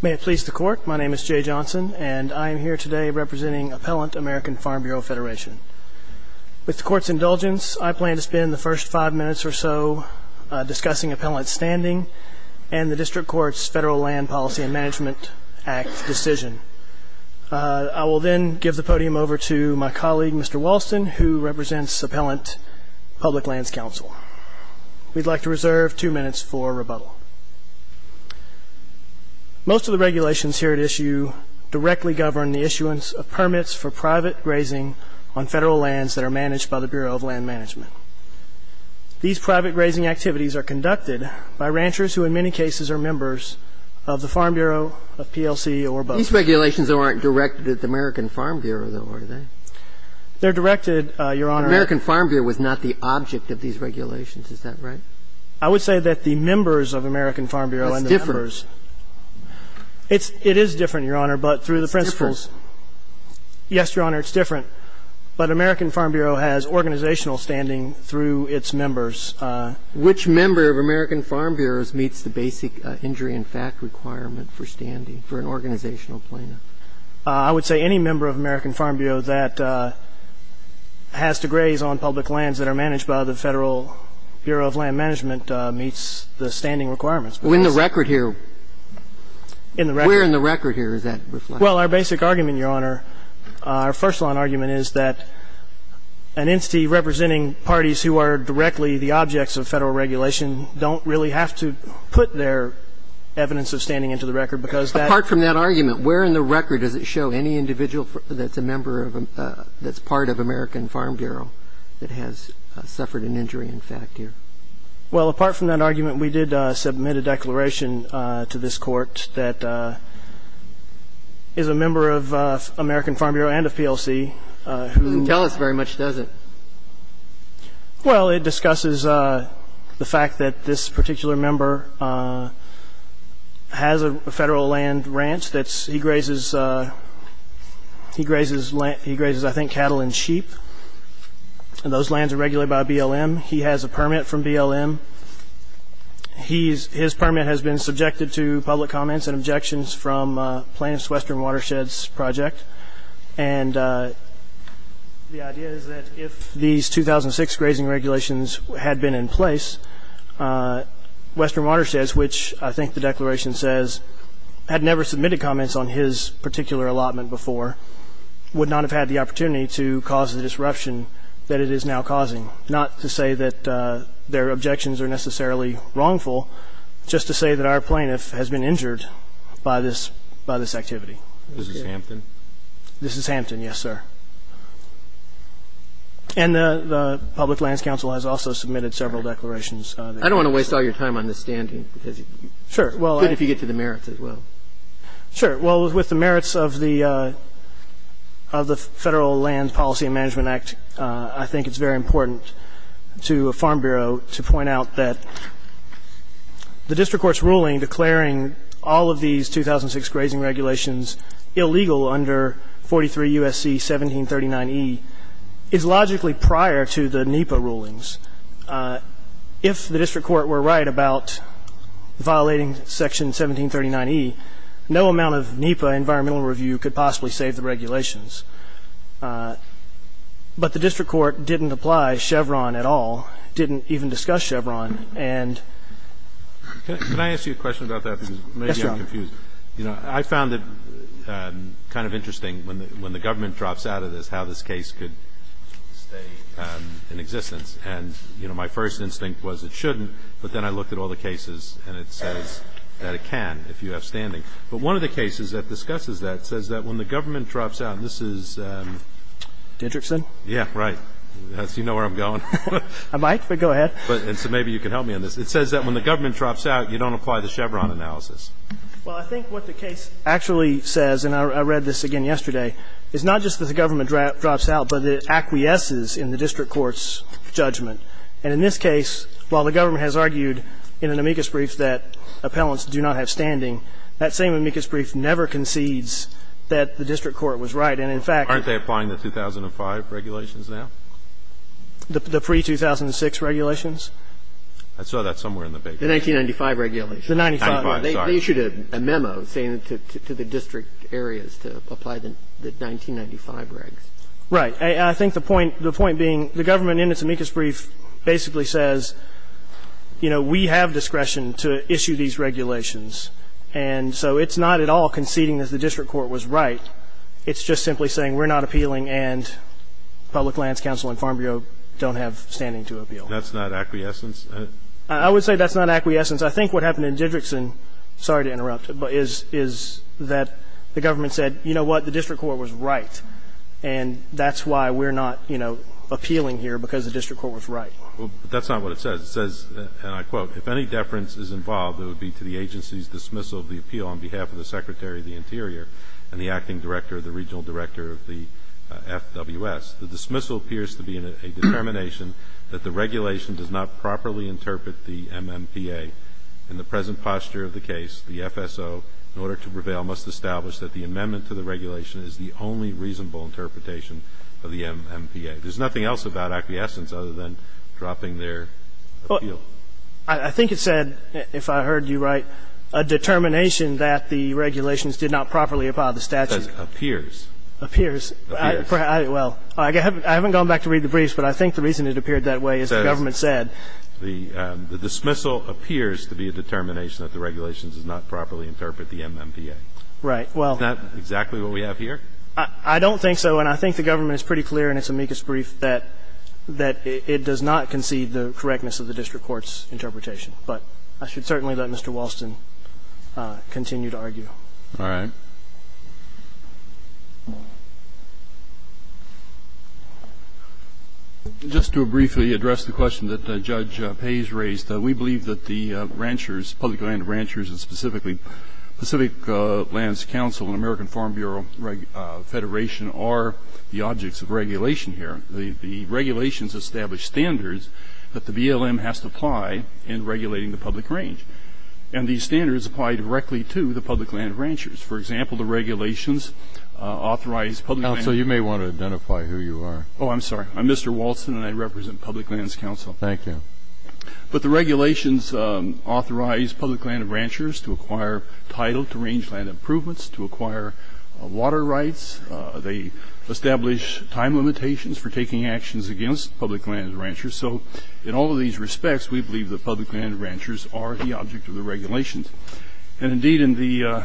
May it please the Court, my name is Jay Johnson, and I am here today representing Appellant, American Farm Bureau Federation. With the Court's indulgence, I plan to spend the first five minutes or so discussing Appellant's standing and the District Court's Federal Land Policy and Management Act decision. I will then give the podium over to my colleague, Mr. Walston, who represents Appellant Public Lands Council. We'd like to reserve two minutes for rebuttal. Most of the regulations here at issue directly govern the issuance of permits for private grazing on Federal lands that are managed by the Bureau of Land Management. These private grazing activities are conducted by ranchers who in many cases are members of the Farm Bureau of PLC or both. These regulations, though, aren't directed at the American Farm Bureau, though, are they? They're directed, Your Honor. American Farm Bureau was not the object of these regulations. Is that right? I would say that the members of American Farm Bureau and the members. That's different. It is different, Your Honor, but through the principles. It's different. Yes, Your Honor, it's different. But American Farm Bureau has organizational standing through its members. Which member of American Farm Bureau meets the basic injury in fact requirement for standing for an organizational plaintiff? I would say any member of American Farm Bureau that has to graze on public lands that are managed by the Federal Bureau of Land Management meets the standing requirements. In the record here. In the record. Where in the record here is that reflected? Well, our basic argument, Your Honor, our first line argument is that an entity representing parties who are directly the objects of Federal regulation don't really have to put their evidence of standing into the record because that. Apart from that argument, where in the record does it show any individual that's a member of that's part of American Farm Bureau that has suffered an injury in fact here? Well, apart from that argument, we did submit a declaration to this Court that is a member of American Farm Bureau and of PLC who. Doesn't tell us very much, does it? Well, it discusses the fact that this particular member has a federal land ranch that he grazes. He grazes. He grazes, I think, cattle and sheep. And those lands are regulated by BLM. He has a permit from BLM. His permit has been subjected to public comments and objections from Plaintiff's Western Watersheds Project. And the idea is that if these 2006 grazing regulations had been in place, Western Watersheds, which I think the declaration says had never submitted comments on his particular allotment before, would not have had the opportunity to cause the disruption that it is now causing, not to say that their objections are necessarily wrongful, just to say that our plaintiff has been injured by this activity. This is Hampton? This is Hampton, yes, sir. And the Public Lands Council has also submitted several declarations. I don't want to waste all your time on this standing because it's good if you get to the merits as well. Sure. Well, with the merits of the Federal Land Policy and Management Act, I think it's very important to Farm Bureau to point out that the district court's ruling declaring all of these 2006 grazing regulations illegal under 43 U.S.C. 1739E is logically prior to the NEPA rulings. If the district court were right about violating Section 1739E, no amount of NEPA environmental review could possibly save the regulations. But the district court didn't apply Chevron at all, didn't even discuss Chevron. Can I ask you a question about that? Yes, Your Honor. I found it kind of interesting when the government drops out of this, how this case could stay in existence. And, you know, my first instinct was it shouldn't, but then I looked at all the cases and it says that it can if you have standing. But one of the cases that discusses that says that when the government drops out, and this is ---- Dendrickson? Yes, right. You know where I'm going. I might, but go ahead. And so maybe you can help me on this. It says that when the government drops out, you don't apply the Chevron analysis. Well, I think what the case actually says, and I read this again yesterday, is not just that the government drops out, but it acquiesces in the district court's judgment. And in this case, while the government has argued in an amicus brief that appellants do not have standing, that same amicus brief never concedes that the district court was right. And in fact ---- Aren't they applying the 2005 regulations now? The pre-2006 regulations? I saw that somewhere in the paper. The 1995 regulations. The 1995, sorry. They issued a memo saying to the district areas to apply the 1995 regs. Right. I think the point being the government in its amicus brief basically says, you know, we have discretion to issue these regulations. And so it's not at all conceding that the district court was right. It's just simply saying we're not appealing and public lands council and farm bureau don't have standing to appeal. That's not acquiescence? I would say that's not acquiescence. I think what happened in Didrikson, sorry to interrupt, is that the government said, you know what, the district court was right, and that's why we're not, you know, appealing here because the district court was right. That's not what it says. It says, and I quote, If any deference is involved, it would be to the agency's dismissal of the appeal on behalf of the Secretary of the Interior and the acting director of the regional director of the FWS. The dismissal appears to be a determination that the regulation does not properly interpret the MMPA. In the present posture of the case, the FSO, in order to prevail, must establish that the amendment to the regulation is the only reasonable interpretation of the MMPA. There's nothing else about acquiescence other than dropping their appeal. I think it said, if I heard you right, a determination that the regulations did not properly abide by the statute. It says appears. Appears. Well, I haven't gone back to read the briefs, but I think the reason it appeared that way is the government said. It says the dismissal appears to be a determination that the regulations did not properly interpret the MMPA. Right. Well. Isn't that exactly what we have here? I don't think so, and I think the government is pretty clear in its amicus brief that it does not concede the correctness of the district court's interpretation. But I should certainly let Mr. Walston continue to argue. All right. Just to briefly address the question that Judge Pays raised, we believe that the ranchers, public land ranchers, and specifically Pacific Lands Council and American Farm Bureau Federation are the objects of regulation here. The regulations establish standards that the BLM has to apply in regulating the public range, and these standards apply directly to the public land ranchers. For example, the regulations authorize public land. Counsel, you may want to identify who you are. Oh, I'm sorry. I'm Mr. Walston, and I represent Public Lands Council. Thank you. But the regulations authorize public land ranchers to acquire title to range land improvements, to acquire water rights. They establish time limitations for taking actions against public land ranchers. So in all of these respects, we believe that public land ranchers are the object of the regulations. And indeed, in the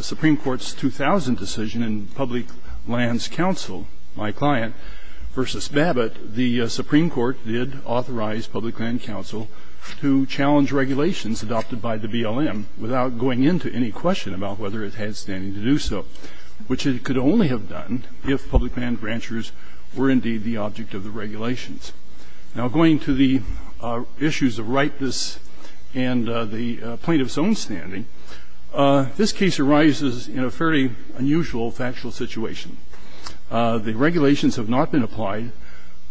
Supreme Court's 2000 decision in Public Lands Council, my client v. Babbitt, the Supreme Court did authorize Public Land Council to challenge regulations adopted by the BLM without going into any question about whether it had standing to do so, which it could only have done if public land ranchers were indeed the object of the regulations. Now, going to the issues of rightness and the plaintiff's own standing, this case arises in a fairly unusual factual situation. The regulations have not been applied,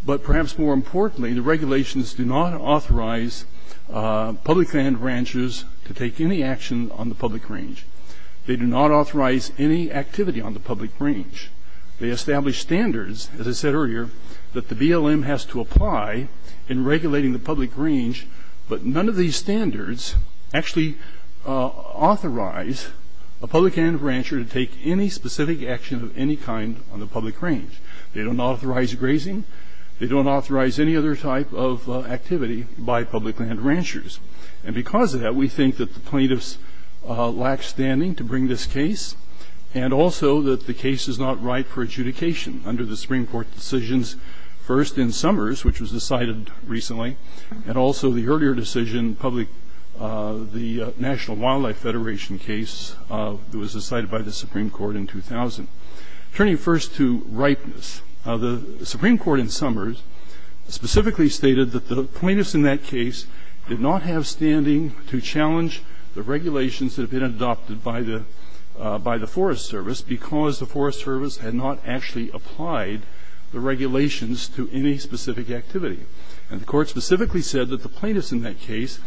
but perhaps more importantly, the regulations do not authorize public land ranchers to take any action on the public range. They do not authorize any activity on the public range. They establish standards, as I said earlier, that the BLM has to apply in regulating the public range, but none of these standards actually authorize a public land rancher to take any specific action of any kind on the public range. They don't authorize grazing. They don't authorize any other type of activity by public land ranchers. And because of that, we think that the plaintiffs lack standing to bring this case, and also that the case is not right for adjudication under the Supreme Court decisions first in Summers, which was decided recently, and also the earlier decision, the National Wildlife Federation case that was decided by the Supreme Court in 2000. Turning first to rightness, the Supreme Court in Summers specifically stated that the plaintiffs in that case did not have standing to challenge the regulations that had been adopted by the Forest Service because the Forest Service had not actually applied the regulations to any specific activity. And the Court specifically said that the plaintiffs in that case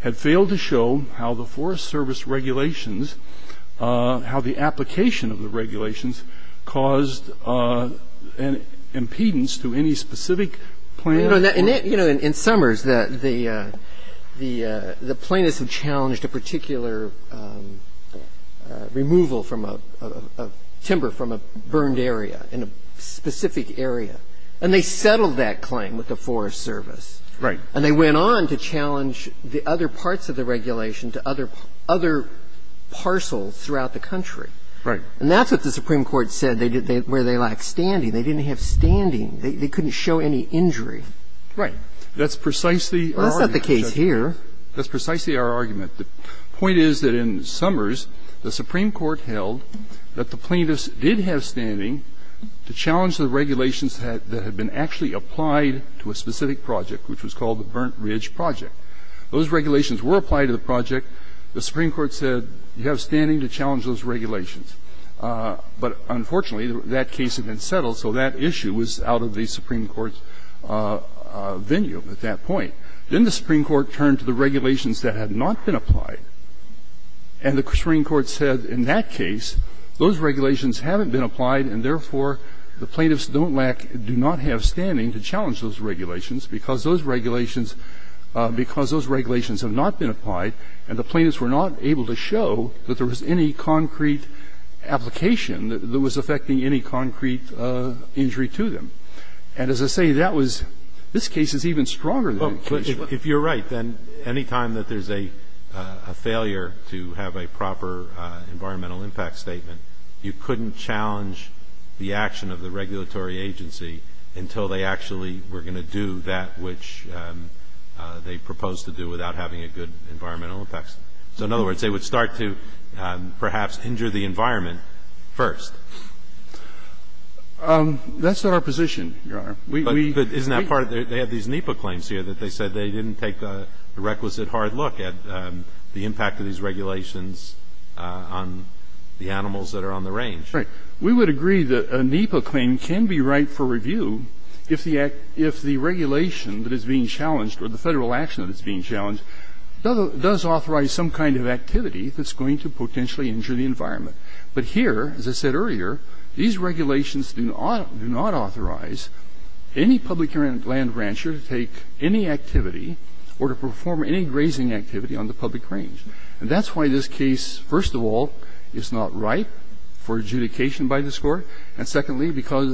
had failed to show how the Forest Service regulations, how the application of the regulations caused an impedance to any specific plan. And, you know, in Summers, the plaintiffs have challenged a particular removal from a timber from a burned area in a specific area. And they settled that claim with the Forest Service. Right. And they went on to challenge the other parts of the regulation to other parcels throughout the country. Right. And that's what the Supreme Court said, where they lack standing. They didn't have standing. They couldn't show any injury. Right. That's precisely our argument. Well, that's not the case here. That's precisely our argument. The point is that in Summers, the Supreme Court held that the plaintiffs did have standing to challenge the regulations that had been actually applied to a specific project, which was called the Burnt Ridge Project. Those regulations were applied to the project. The Supreme Court said you have standing to challenge those regulations. But, unfortunately, that case had been settled, so that issue was out of the Supreme Court's venue at that point. Then the Supreme Court turned to the regulations that had not been applied. And the Supreme Court said in that case, those regulations haven't been applied and, therefore, the plaintiffs don't lack or do not have standing to challenge those regulations because those regulations have not been applied and the plaintiffs were not able to show that there was any concrete application that was affecting any concrete injury to them. And, as I say, that was this case is even stronger than that case. Well, if you're right, then any time that there's a failure to have a proper environmental impact statement, you couldn't challenge the action of the regulatory agency until they actually were going to do that which they proposed to do without having a good environmental impact statement. So, in other words, they would start to perhaps injure the environment first. That's not our position, Your Honor. But isn't that part of it? They have these NEPA claims here that they said they didn't take the requisite hard look at the impact of these regulations on the animals that are on the range. Right. We would agree that a NEPA claim can be right for review if the regulation that is being challenged or the Federal action that is being challenged does authorize some kind of activity that's going to potentially injure the environment. But here, as I said earlier, these regulations do not authorize any public land rancher to take any activity or to perform any grazing activity on the public range. And that's why this case, first of all, is not right for adjudication by this Court, and secondly, because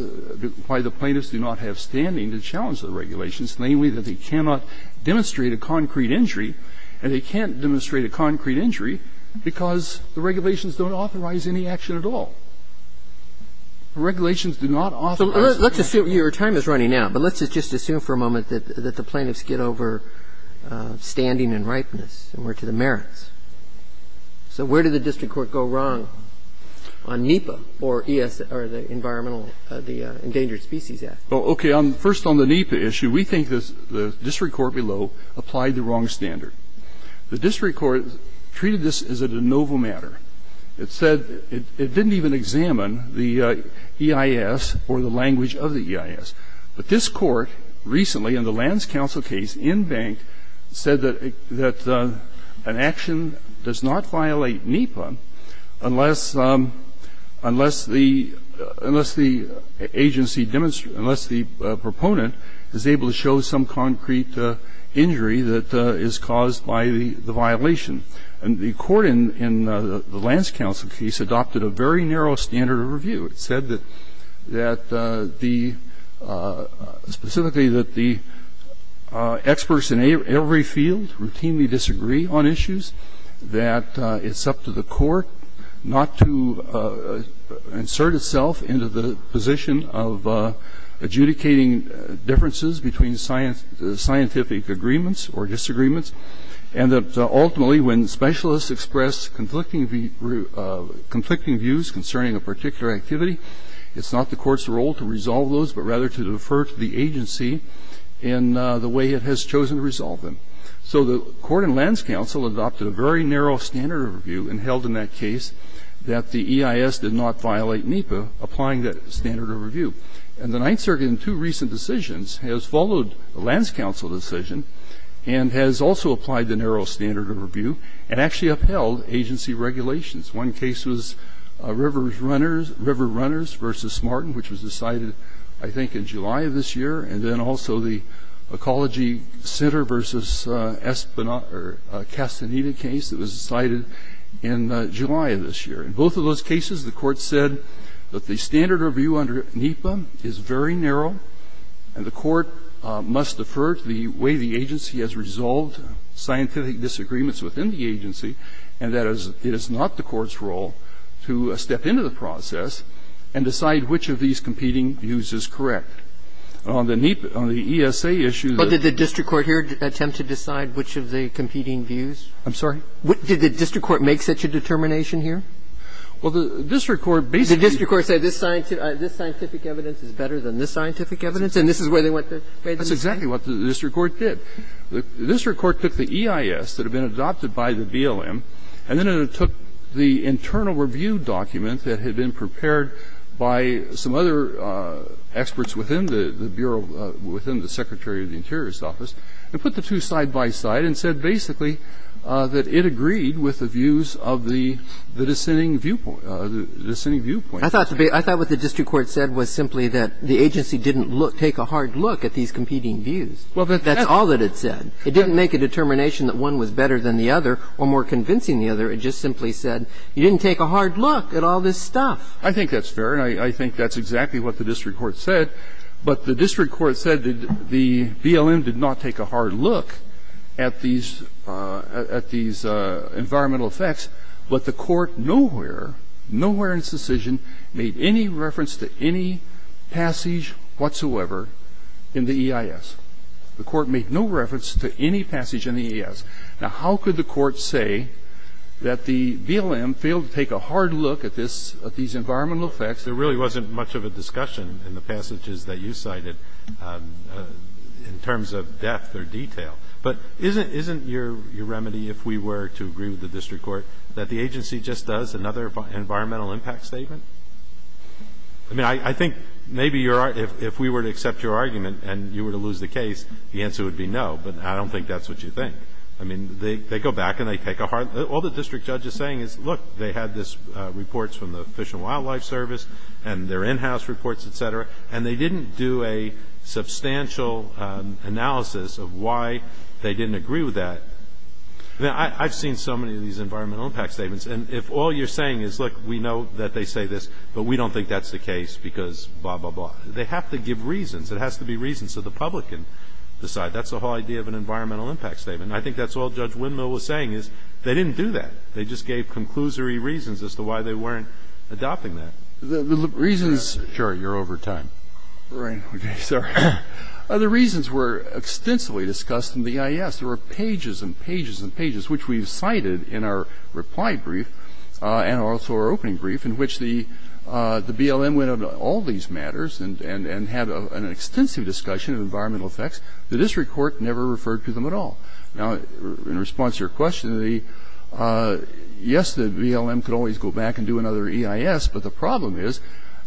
why the plaintiffs do not have standing to challenge the regulations, namely that they cannot demonstrate a concrete injury and they can't demonstrate a concrete injury because the regulations don't authorize any action at all. The regulations do not authorize any action. So let's assume your time is running out, but let's just assume for a moment that the plaintiffs get over standing and ripeness and we're to the merits. So where did the district court go wrong on NEPA or ES, or the Environmental Endangered Species Act? Well, okay. First on the NEPA issue, we think the district court below applied the wrong standard. The district court treated this as a de novo matter. It said it didn't even examine the EIS or the language of the EIS. But this Court recently, in the Lands Council case in Bank, said that an action does not violate NEPA unless the agency demonstrates, unless the proponent is able to show some concrete injury that is caused by the violation. And the Court in the Lands Council case adopted a very narrow standard of review. It said that the, specifically that the experts in every field routinely disagree on issues, that it's up to the court not to insert itself into the position of adjudicating differences between scientific agreements or disagreements. And that ultimately when specialists express conflicting views concerning a particular activity, it's not the court's role to resolve those, but rather to defer to the agency in the way it has chosen to resolve them. So the Court in Lands Council adopted a very narrow standard of review and held in that case that the EIS did not violate NEPA, applying that standard of review. And the Ninth Circuit in two recent decisions has followed the Lands Council decision and has also applied the narrow standard of review and actually upheld agency regulations. One case was River Runners v. Smarten, which was decided, I think, in July of this year, and then also the Ecology Center v. Espinoza or Castaneda case that was decided in July of this year. In both of those cases, the Court said that the standard of review under NEPA is very narrow, and the Court must defer to the way the agency has resolved scientific disagreements within the agency, and that it is not the court's role to step into the process and decide which of these competing views is correct. On the ESA issue that the district court here attempted to decide which of the competing views? I'm sorry? Did the district court make such a determination here? Well, the district court basically said this scientific evidence is better than this scientific evidence, and this is where they went to? That's exactly what the district court did. The district court took the EIS that had been adopted by the BLM, and then it took the internal review document that had been prepared by some other experts within the Bureau, within the Secretary of the Interior's office, and put the two side by side and said basically that it agreed with the views of the dissenting viewpoint. I thought what the district court said was simply that the agency didn't take a hard look at these competing views. That's all that it said. It didn't make a determination that one was better than the other or more convincing the other. It just simply said you didn't take a hard look at all this stuff. I think that's fair, and I think that's exactly what the district court said. But the district court said that the BLM did not take a hard look at these at these environmental effects, but the court nowhere, nowhere in its decision made any reference to any passage whatsoever in the EIS. The court made no reference to any passage in the EIS. Now, how could the court say that the BLM failed to take a hard look at this, at these environmental effects? There really wasn't much of a discussion in the passages that you cited in terms of depth or detail. But isn't your remedy, if we were to agree with the district court, that the agency just does another environmental impact statement? I mean, I think maybe if we were to accept your argument and you were to lose the case, the answer would be no, but I don't think that's what you think. I mean, they go back and they take a hard look. All the district judge is saying is, look, they had these reports from the Fish and Wildlife Service and their in-house reports, et cetera, and they didn't do a substantial analysis of why they didn't agree with that. I mean, I've seen so many of these environmental impact statements, and if all you're saying is, look, we know that they say this, but we don't think that's the case because blah, blah, blah. They have to give reasons. It has to be reasons so the public can decide. That's the whole idea of an environmental impact statement. And I think that's all Judge Windmill was saying is they didn't do that. They just gave conclusory reasons as to why they weren't adopting that. The reasons — Sure. You're over time. Right. Okay. Sorry. The reasons were extensively discussed in the EIS. There were pages and pages and pages, which we've cited in our reply brief and also our opening brief, in which the BLM went into all these matters and had an extensive discussion of environmental effects. The district court never referred to them at all. Now, in response to your question, yes, the BLM could always go back and do another EIS, but the problem is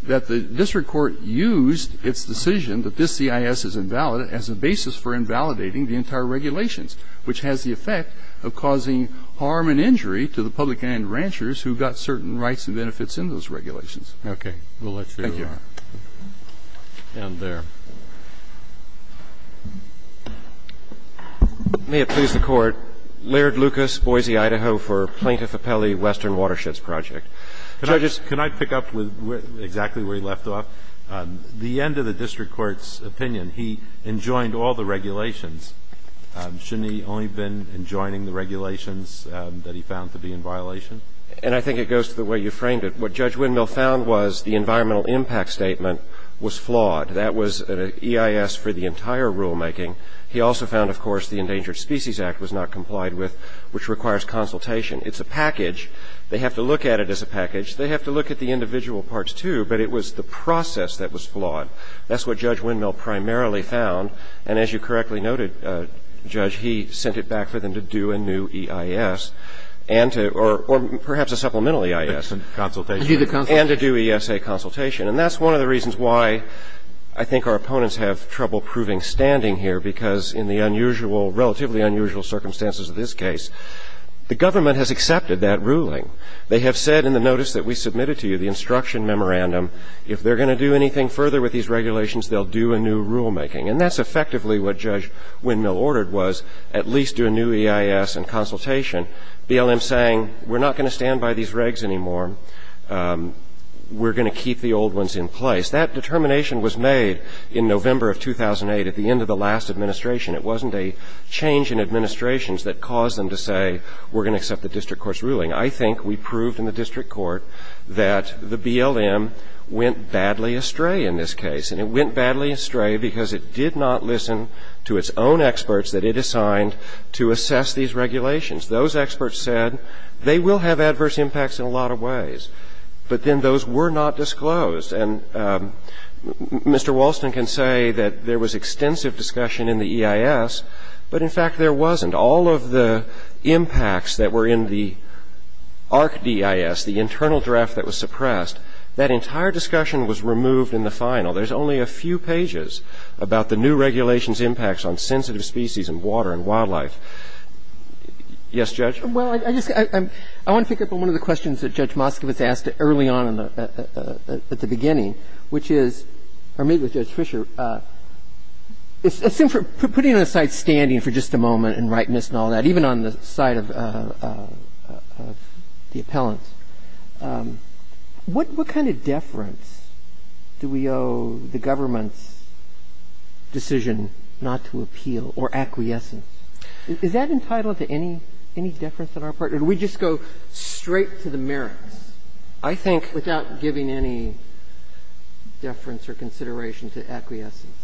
that the district court used its decision that this EIS is invalid as a basis for invalidating the entire regulations, which has the effect of causing harm and injury to the public and ranchers who got certain rights and benefits in those regulations. Okay. We'll let you go on. Thank you. And there. May it please the Court. Laird Lucas, Boise, Idaho, for Plaintiff Appellee Western Watersheds Project. Judges. Can I pick up with exactly where you left off? The end of the district court's opinion, he enjoined all the regulations. Shouldn't he only have been enjoining the regulations that he found to be in violation? And I think it goes to the way you framed it. What Judge Windmill found was the environmental impact statement was flawed. That was an EIS for the entire rulemaking. He also found, of course, the Endangered Species Act was not complied with, which requires consultation. It's a package. They have to look at it as a package. They have to look at the individual parts, too, but it was the process that was flawed. That's what Judge Windmill primarily found. And as you correctly noted, Judge, he sent it back for them to do a new EIS and to or perhaps a supplemental EIS. Consultation. And do the consultation. And to do ESA consultation. And that's one of the reasons why I think our opponents have trouble proving standing here, because in the unusual, relatively unusual circumstances of this case, the government has accepted that ruling. They have said in the notice that we submitted to you, the instruction memorandum, if they're going to do anything further with these regulations, they'll do a new rulemaking. And that's effectively what Judge Windmill ordered was at least do a new EIS and consultation. BLM saying, we're not going to stand by these regs anymore. We're going to keep the old ones in place. That determination was made in November of 2008 at the end of the last administration. It wasn't a change in administrations that caused them to say we're going to accept the district court's ruling. I think we proved in the district court that the BLM went badly astray in this case. And it went badly astray because it did not listen to its own experts that it assigned to assess these regulations. Those experts said they will have adverse impacts in a lot of ways. But then those were not disclosed. And Mr. Walston can say that there was extensive discussion in the EIS, but in fact there wasn't. All of the impacts that were in the ARC-DIS, the internal draft that was suppressed, that entire discussion was removed in the final. There's only a few pages about the new regulations' impacts on sensitive species and water and wildlife. Yes, Judge? Well, I just want to pick up on one of the questions that Judge Moskovitz asked early on at the beginning, which is, or maybe it was Judge Fischer. Putting aside standing for just a moment and rightness and all that, even on the side of the appellants, what kind of deference do we owe the government's decision not to appeal or acquiescence? Is that entitled to any deference on our part? Or do we just go straight to the merits, I think, without giving any deference or consideration to acquiescence?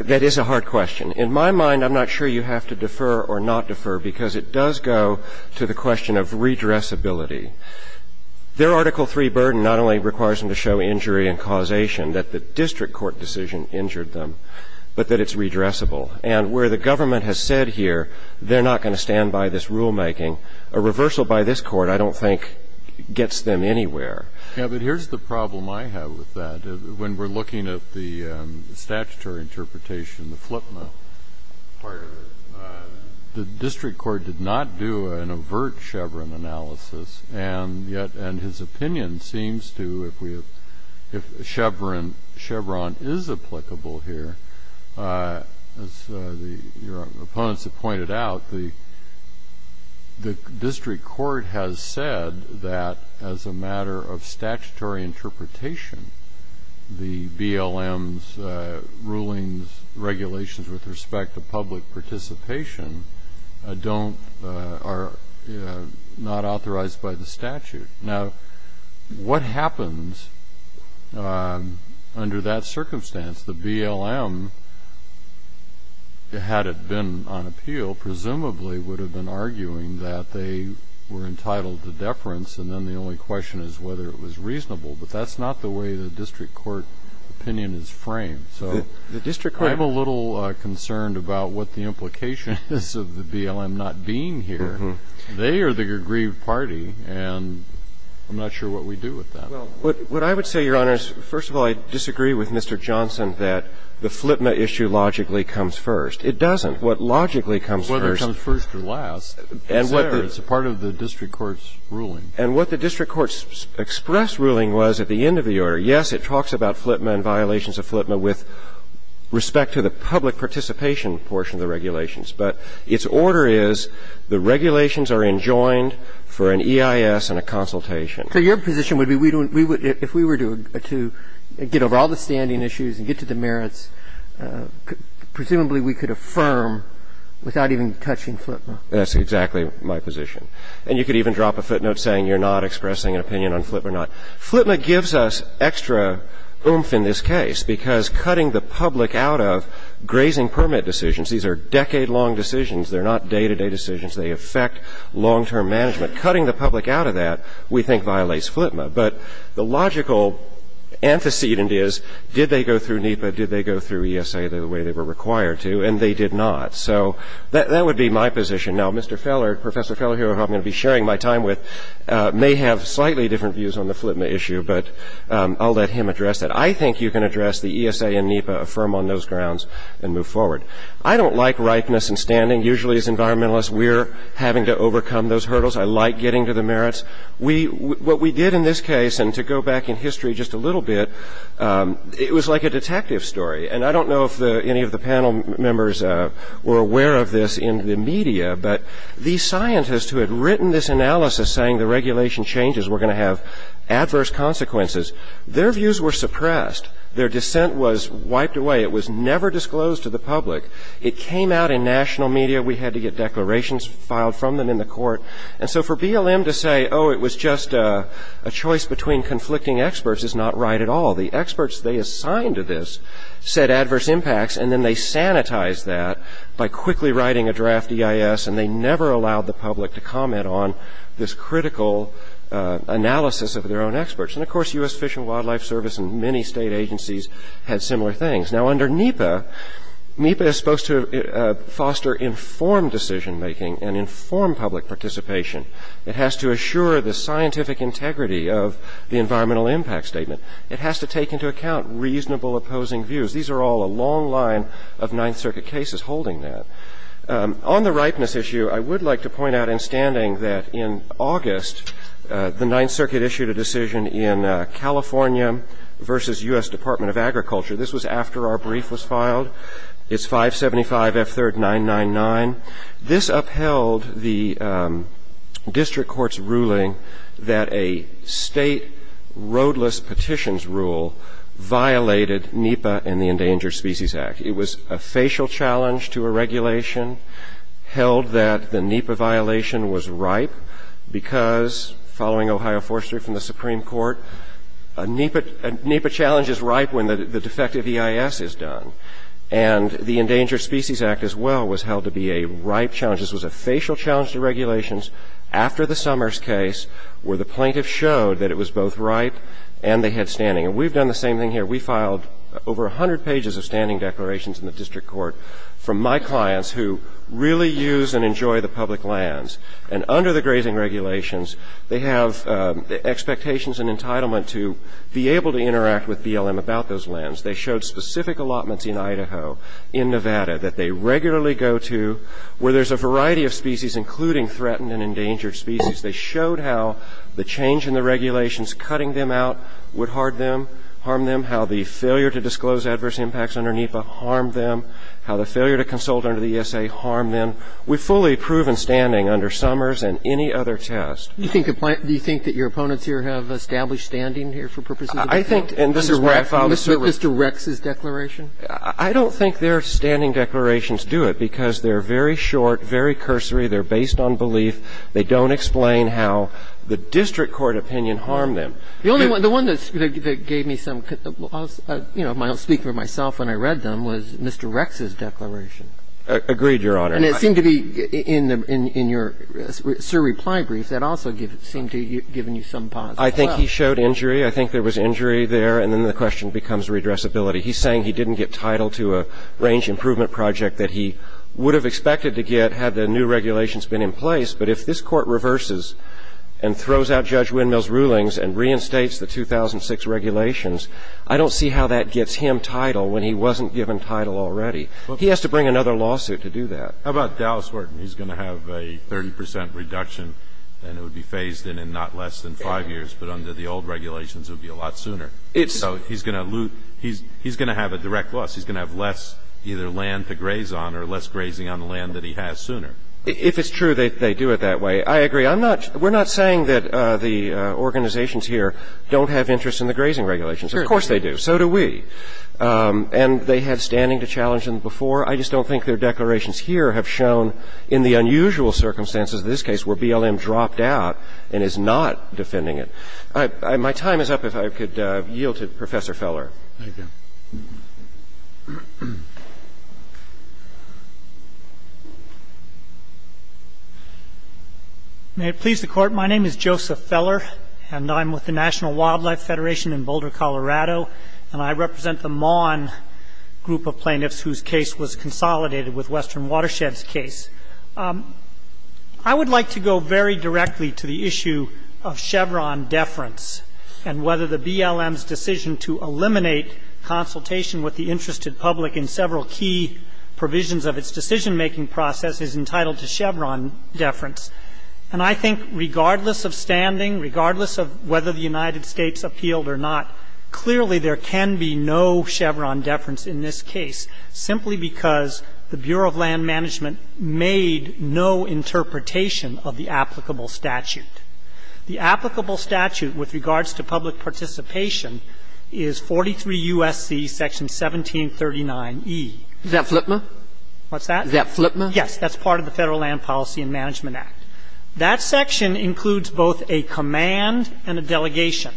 That is a hard question. In my mind, I'm not sure you have to defer or not defer, because it does go to the question of redressability. Their Article III burden not only requires them to show injury and causation that the district court decision injured them, but that it's redressable. And where the government has said here they're not going to stand by this rulemaking, a reversal by this Court I don't think gets them anywhere. Yes, but here's the problem I have with that. When we're looking at the statutory interpretation, the FLIPMA, the district court did not do an overt Chevron analysis, and yet his opinion seems to, if Chevron is applicable here, as your opponents have pointed out, the district court has said that as a matter of statutory interpretation, the BLM's rulings, regulations with respect to public participation are not authorized by the statute. Now, what happens under that circumstance? The BLM, had it been on appeal, presumably would have been arguing that they were reasonable, but that's not the way the district court opinion is framed. So I'm a little concerned about what the implication is of the BLM not being here. They are the aggrieved party, and I'm not sure what we do with that. Well, what I would say, Your Honors, first of all, I disagree with Mr. Johnson that the FLIPMA issue logically comes first. It doesn't. What logically comes first. Whether it comes first or last. It's a part of the district court's ruling. And what the district court's express ruling was at the end of the order, yes, it talks about FLIPMA and violations of FLIPMA with respect to the public participation portion of the regulations. But its order is the regulations are enjoined for an EIS and a consultation. So your position would be if we were to get over all the standing issues and get to the merits, presumably we could affirm without even touching FLIPMA. That's exactly my position. And you could even drop a footnote saying you're not expressing an opinion on FLIPMA or not. FLIPMA gives us extra oomph in this case because cutting the public out of grazing permit decisions, these are decade-long decisions. They're not day-to-day decisions. They affect long-term management. Cutting the public out of that, we think, violates FLIPMA. But the logical antecedent is, did they go through NEPA? Did they go through ESA the way they were required to? And they did not. So that would be my position. Now, Mr. Feller, Professor Feller, who I'm going to be sharing my time with, may have slightly different views on the FLIPMA issue. But I'll let him address that. I think you can address the ESA and NEPA, affirm on those grounds, and move forward. I don't like ripeness and standing. Usually, as environmentalists, we're having to overcome those hurdles. I like getting to the merits. What we did in this case, and to go back in history just a little bit, it was like a detective story. And I don't know if any of the panel members were aware of this in the media, but these scientists who had written this analysis saying the regulation changes were going to have adverse consequences, their views were suppressed. Their dissent was wiped away. It was never disclosed to the public. It came out in national media. We had to get declarations filed from them in the court. And so for BLM to say, oh, it was just a choice between conflicting experts is not right at all. The experts they assigned to this said adverse impacts, and then they sanitized that by quickly writing a draft EIS. And they never allowed the public to comment on this critical analysis of their own experts. And, of course, U.S. Fish and Wildlife Service and many state agencies had similar things. Now, under NEPA, NEPA is supposed to foster informed decision-making and inform public participation. It has to assure the scientific integrity of the environmental impact statement. It has to take into account reasonable opposing views. These are all a long line of Ninth Circuit cases holding that. On the ripeness issue, I would like to point out in standing that in August, the Ninth Circuit issued a decision in California versus U.S. Department of Agriculture. This was after our brief was filed. It's 575F3999. This upheld the district court's ruling that a state roadless petitions rule violated NEPA and the Endangered Species Act. It was a facial challenge to a regulation held that the NEPA violation was ripe because, following Ohio Forestry from the Supreme Court, a NEPA challenge is ripe when the defective EIS is done. And the Endangered Species Act, as well, was held to be a ripe challenge. This was a facial challenge to regulations after the Summers case where the plaintiff showed that it was both ripe and they had standing. And we've done the same thing here. We filed over 100 pages of standing declarations in the district court from my clients who really use and enjoy the public lands. And under the grazing regulations, they have expectations and entitlement to be able to interact with BLM about those lands. They showed specific allotments in Idaho, in Nevada, that they regularly go to where there's a variety of species, including threatened and endangered species. They showed how the change in the regulations cutting them out would hard them, harm them, how the failure to disclose adverse impacts under NEPA harmed them, how the failure to consult under the ESA harmed them. We've fully proven standing under Summers and any other test. Roberts. Do you think that your opponents here have established standing here for purposes of the plaintiff? And this is where I filed a survey. Mr. Rex's declaration? I don't think their standing declarations do it because they're very short, very cursory. They're based on belief. They don't explain how the district court opinion harmed them. The only one that gave me some, you know, I'll speak for myself when I read them, was Mr. Rex's declaration. Agreed, Your Honor. And it seemed to be in your surreply brief that also seemed to have given you some positive. I think he showed injury. I think there was injury there. And then the question becomes redressability. He's saying he didn't get title to a range improvement project that he would have expected to get had the new regulations been in place. But if this Court reverses and throws out Judge Windmill's rulings and reinstates the 2006 regulations, I don't see how that gets him title when he wasn't given title already. He has to bring another lawsuit to do that. How about Dallas Horton? He's going to have a 30 percent reduction and it would be phased in in not less than 30 percent. So he's going to have a direct loss. He's going to have less either land to graze on or less grazing on the land that he has sooner. If it's true, they do it that way. I agree. We're not saying that the organizations here don't have interest in the grazing regulations. Of course they do. So do we. And they have standing to challenge them before. I just don't think their declarations here have shown in the unusual circumstances of this case where BLM dropped out and is not defending it. My time is up. If I could yield to Professor Feller. Thank you. May it please the Court. My name is Joseph Feller and I'm with the National Wildlife Federation in Boulder, Colorado. And I represent the Maughan group of plaintiffs whose case was consolidated with Western Watersheds' case. I would like to go very directly to the issue of Chevron deference and whether the BLM's decision to eliminate consultation with the interested public in several key provisions of its decision-making process is entitled to Chevron deference. And I think regardless of standing, regardless of whether the United States appealed or not, clearly there can be no Chevron deference in this case, simply because the Bureau of Land Management made no interpretation of the applicable statute. The applicable statute with regards to public participation is 43 U.S.C. section 1739E. Is that FLPMA? What's that? Is that FLPMA? Yes. That's part of the Federal Land Policy and Management Act. That section includes both a command and a delegation.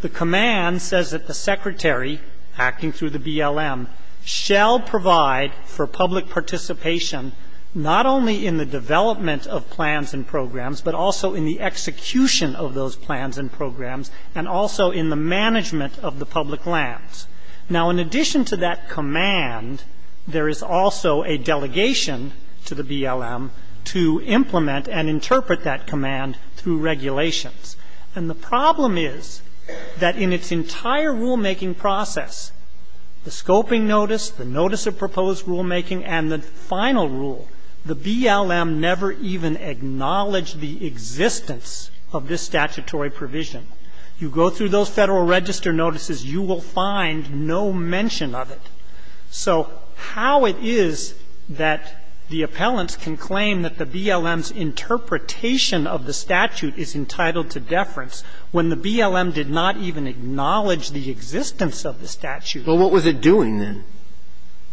The command says that the Secretary, acting through the BLM, shall provide for public participation not only in the development of plans and programs, but also in the execution of those plans and programs, and also in the management of the public lands. Now, in addition to that command, there is also a delegation to the BLM to implement and interpret that command through regulations. And the problem is that in its entire rulemaking process, the scoping notice, the notice of proposed rulemaking, and the final rule, the BLM never even acknowledged the existence of this statutory provision. You go through those Federal Register notices, you will find no mention of it. So how it is that the appellants can claim that the BLM's interpretation of the statute is entitled to deference when the BLM did not even acknowledge the existence of the statute? Well, what was it doing then?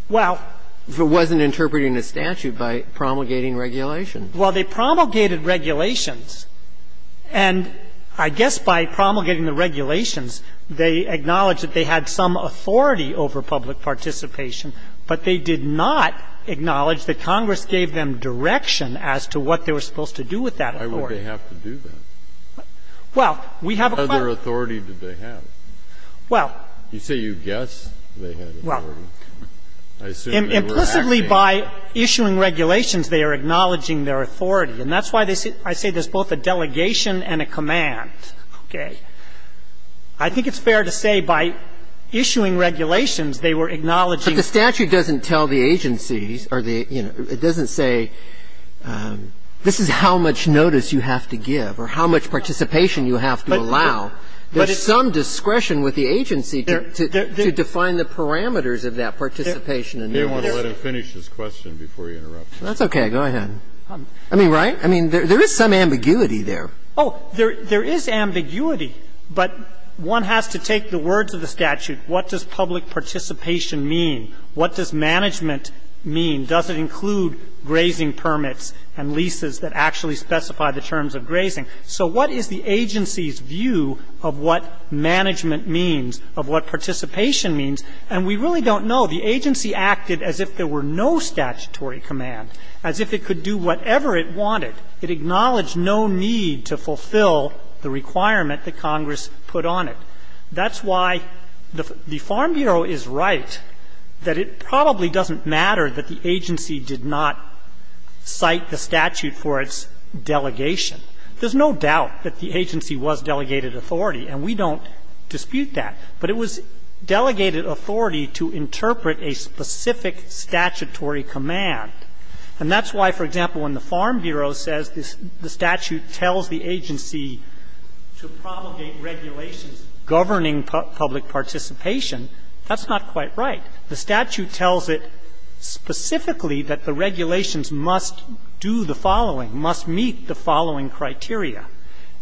Well. If it wasn't interpreting the statute by promulgating regulation. Well, they promulgated regulations. And I guess by promulgating the regulations, they acknowledged that they had some authority over public participation, but they did not acknowledge that Congress gave them direction as to what they were supposed to do with that authority. Why would they have to do that? Well, we have a question. What other authority did they have? Well. You say you guess they had authority. Well. Implicitly by issuing regulations, they are acknowledging their authority. And that's why I say there's both a delegation and a command. Okay. I think it's fair to say by issuing regulations, they were acknowledging But the statute doesn't tell the agencies or the, you know, it doesn't say this is how much notice you have to give or how much participation you have to allow. There's some discretion with the agency to define the parameters of that participation and notice. You may want to let him finish his question before you interrupt. That's okay. Go ahead. I mean, right? I mean, there is some ambiguity there. Oh, there is ambiguity, but one has to take the words of the statute. What does public participation mean? What does management mean? Does it include grazing permits and leases that actually specify the terms of grazing? So what is the agency's view of what management means, of what participation means? And we really don't know. The agency acted as if there were no statutory command, as if it could do whatever it wanted. It acknowledged no need to fulfill the requirement that Congress put on it. That's why the Farm Bureau is right that it probably doesn't matter that the agency did not cite the statute for its delegation. There's no doubt that the agency was delegated authority, and we don't dispute that. But it was delegated authority to interpret a specific statutory command. And that's why, for example, when the Farm Bureau says the statute tells the agency to promulgate regulations governing public participation, that's not quite right. The statute tells it specifically that the regulations must do the following, must meet the following criteria.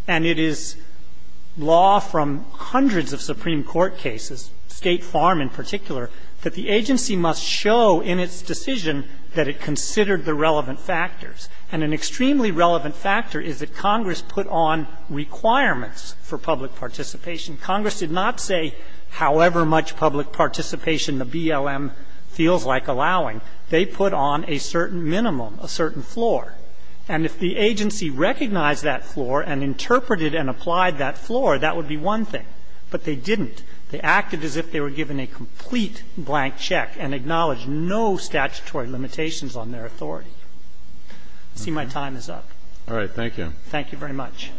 And it is law from hundreds of Supreme Court cases, State Farm in particular, that the agency must show in its decision that it considered the relevant factors. And an extremely relevant factor is that Congress put on requirements for public participation. Congress did not say however much public participation the BLM feels like allowing. They put on a certain minimum, a certain floor. And if the agency recognized that floor and interpreted and applied that floor, that would be one thing. But they didn't. They acted as if they were given a complete blank check and acknowledged no statutory limitations on their authority. I see my time is up. All right. Thank you. Thank you very much.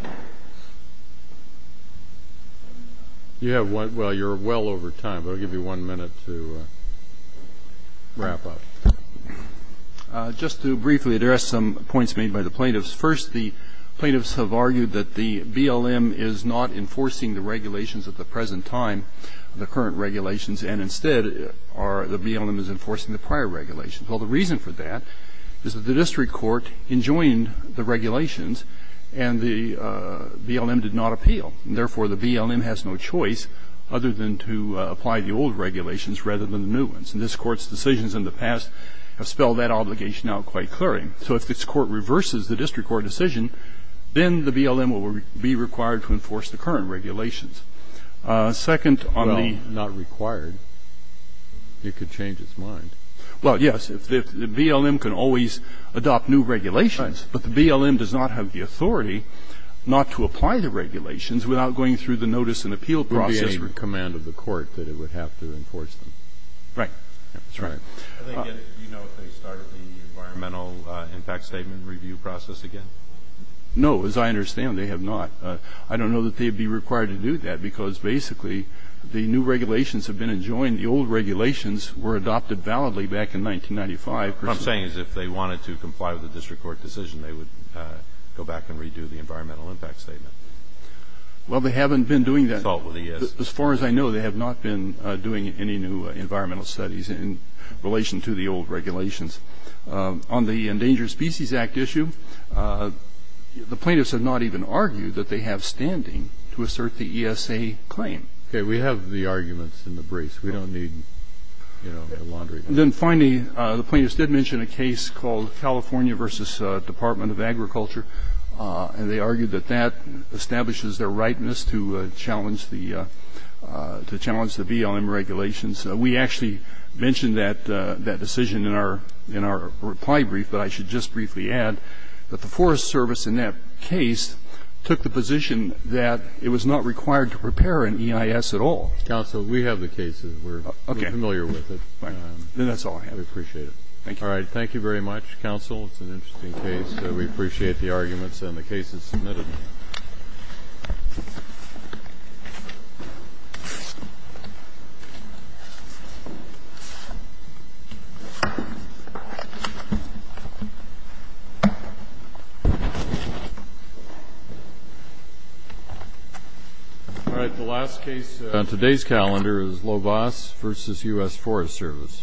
You have one. Well, you're well over time, but I'll give you one minute to wrap up. Just to briefly address some points made by the plaintiffs. First, the plaintiffs have argued that the BLM is not enforcing the regulations at the present time, the current regulations. And instead, the BLM is enforcing the prior regulations. Well, the reason for that is that the district court enjoined the regulations and the BLM did not appeal. And therefore, the BLM has no choice other than to apply the old regulations rather than the new ones. And this Court's decisions in the past have spelled that obligation out quite clearly. So if this Court reverses the district court decision, then the BLM will be required to enforce the current regulations. Second, on the ñ Well, not required. It could change its mind. Well, yes. The BLM can always adopt new regulations. But the BLM does not have the authority not to apply the regulations without going through the notice and appeal process. There would be any command of the court that it would have to enforce them. Right. That's right. Do you know if they start the environmental impact statement review process again? No. As I understand, they have not. I don't know that they'd be required to do that because, basically, the new regulations have been enjoined. The old regulations were adopted validly back in 1995. What I'm saying is if they wanted to comply with the district court decision, they would go back and redo the environmental impact statement. Well, they haven't been doing that. As far as I know, they have not been doing any new environmental studies in relation to the old regulations. On the Endangered Species Act issue, the plaintiffs have not even argued that they have standing to assert the ESA claim. Okay. We have the arguments in the briefs. We don't need, you know, the laundry. Then, finally, the plaintiffs did mention a case called California v. Department of Agriculture, and they argued that that establishes their rightness to challenge the BLM regulations. We actually mentioned that decision in our reply brief, but I should just briefly add that the Forest Service, in that case, took the position that it was not required to prepare an EIS at all. Counsel, we have the cases. We're familiar with it. Then that's all I have. We appreciate it. Thank you. All right. Thank you very much, counsel. It's an interesting case. We appreciate the arguments and the cases submitted. All right. The last case on today's calendar is Lobos v. U.S. Forest Service.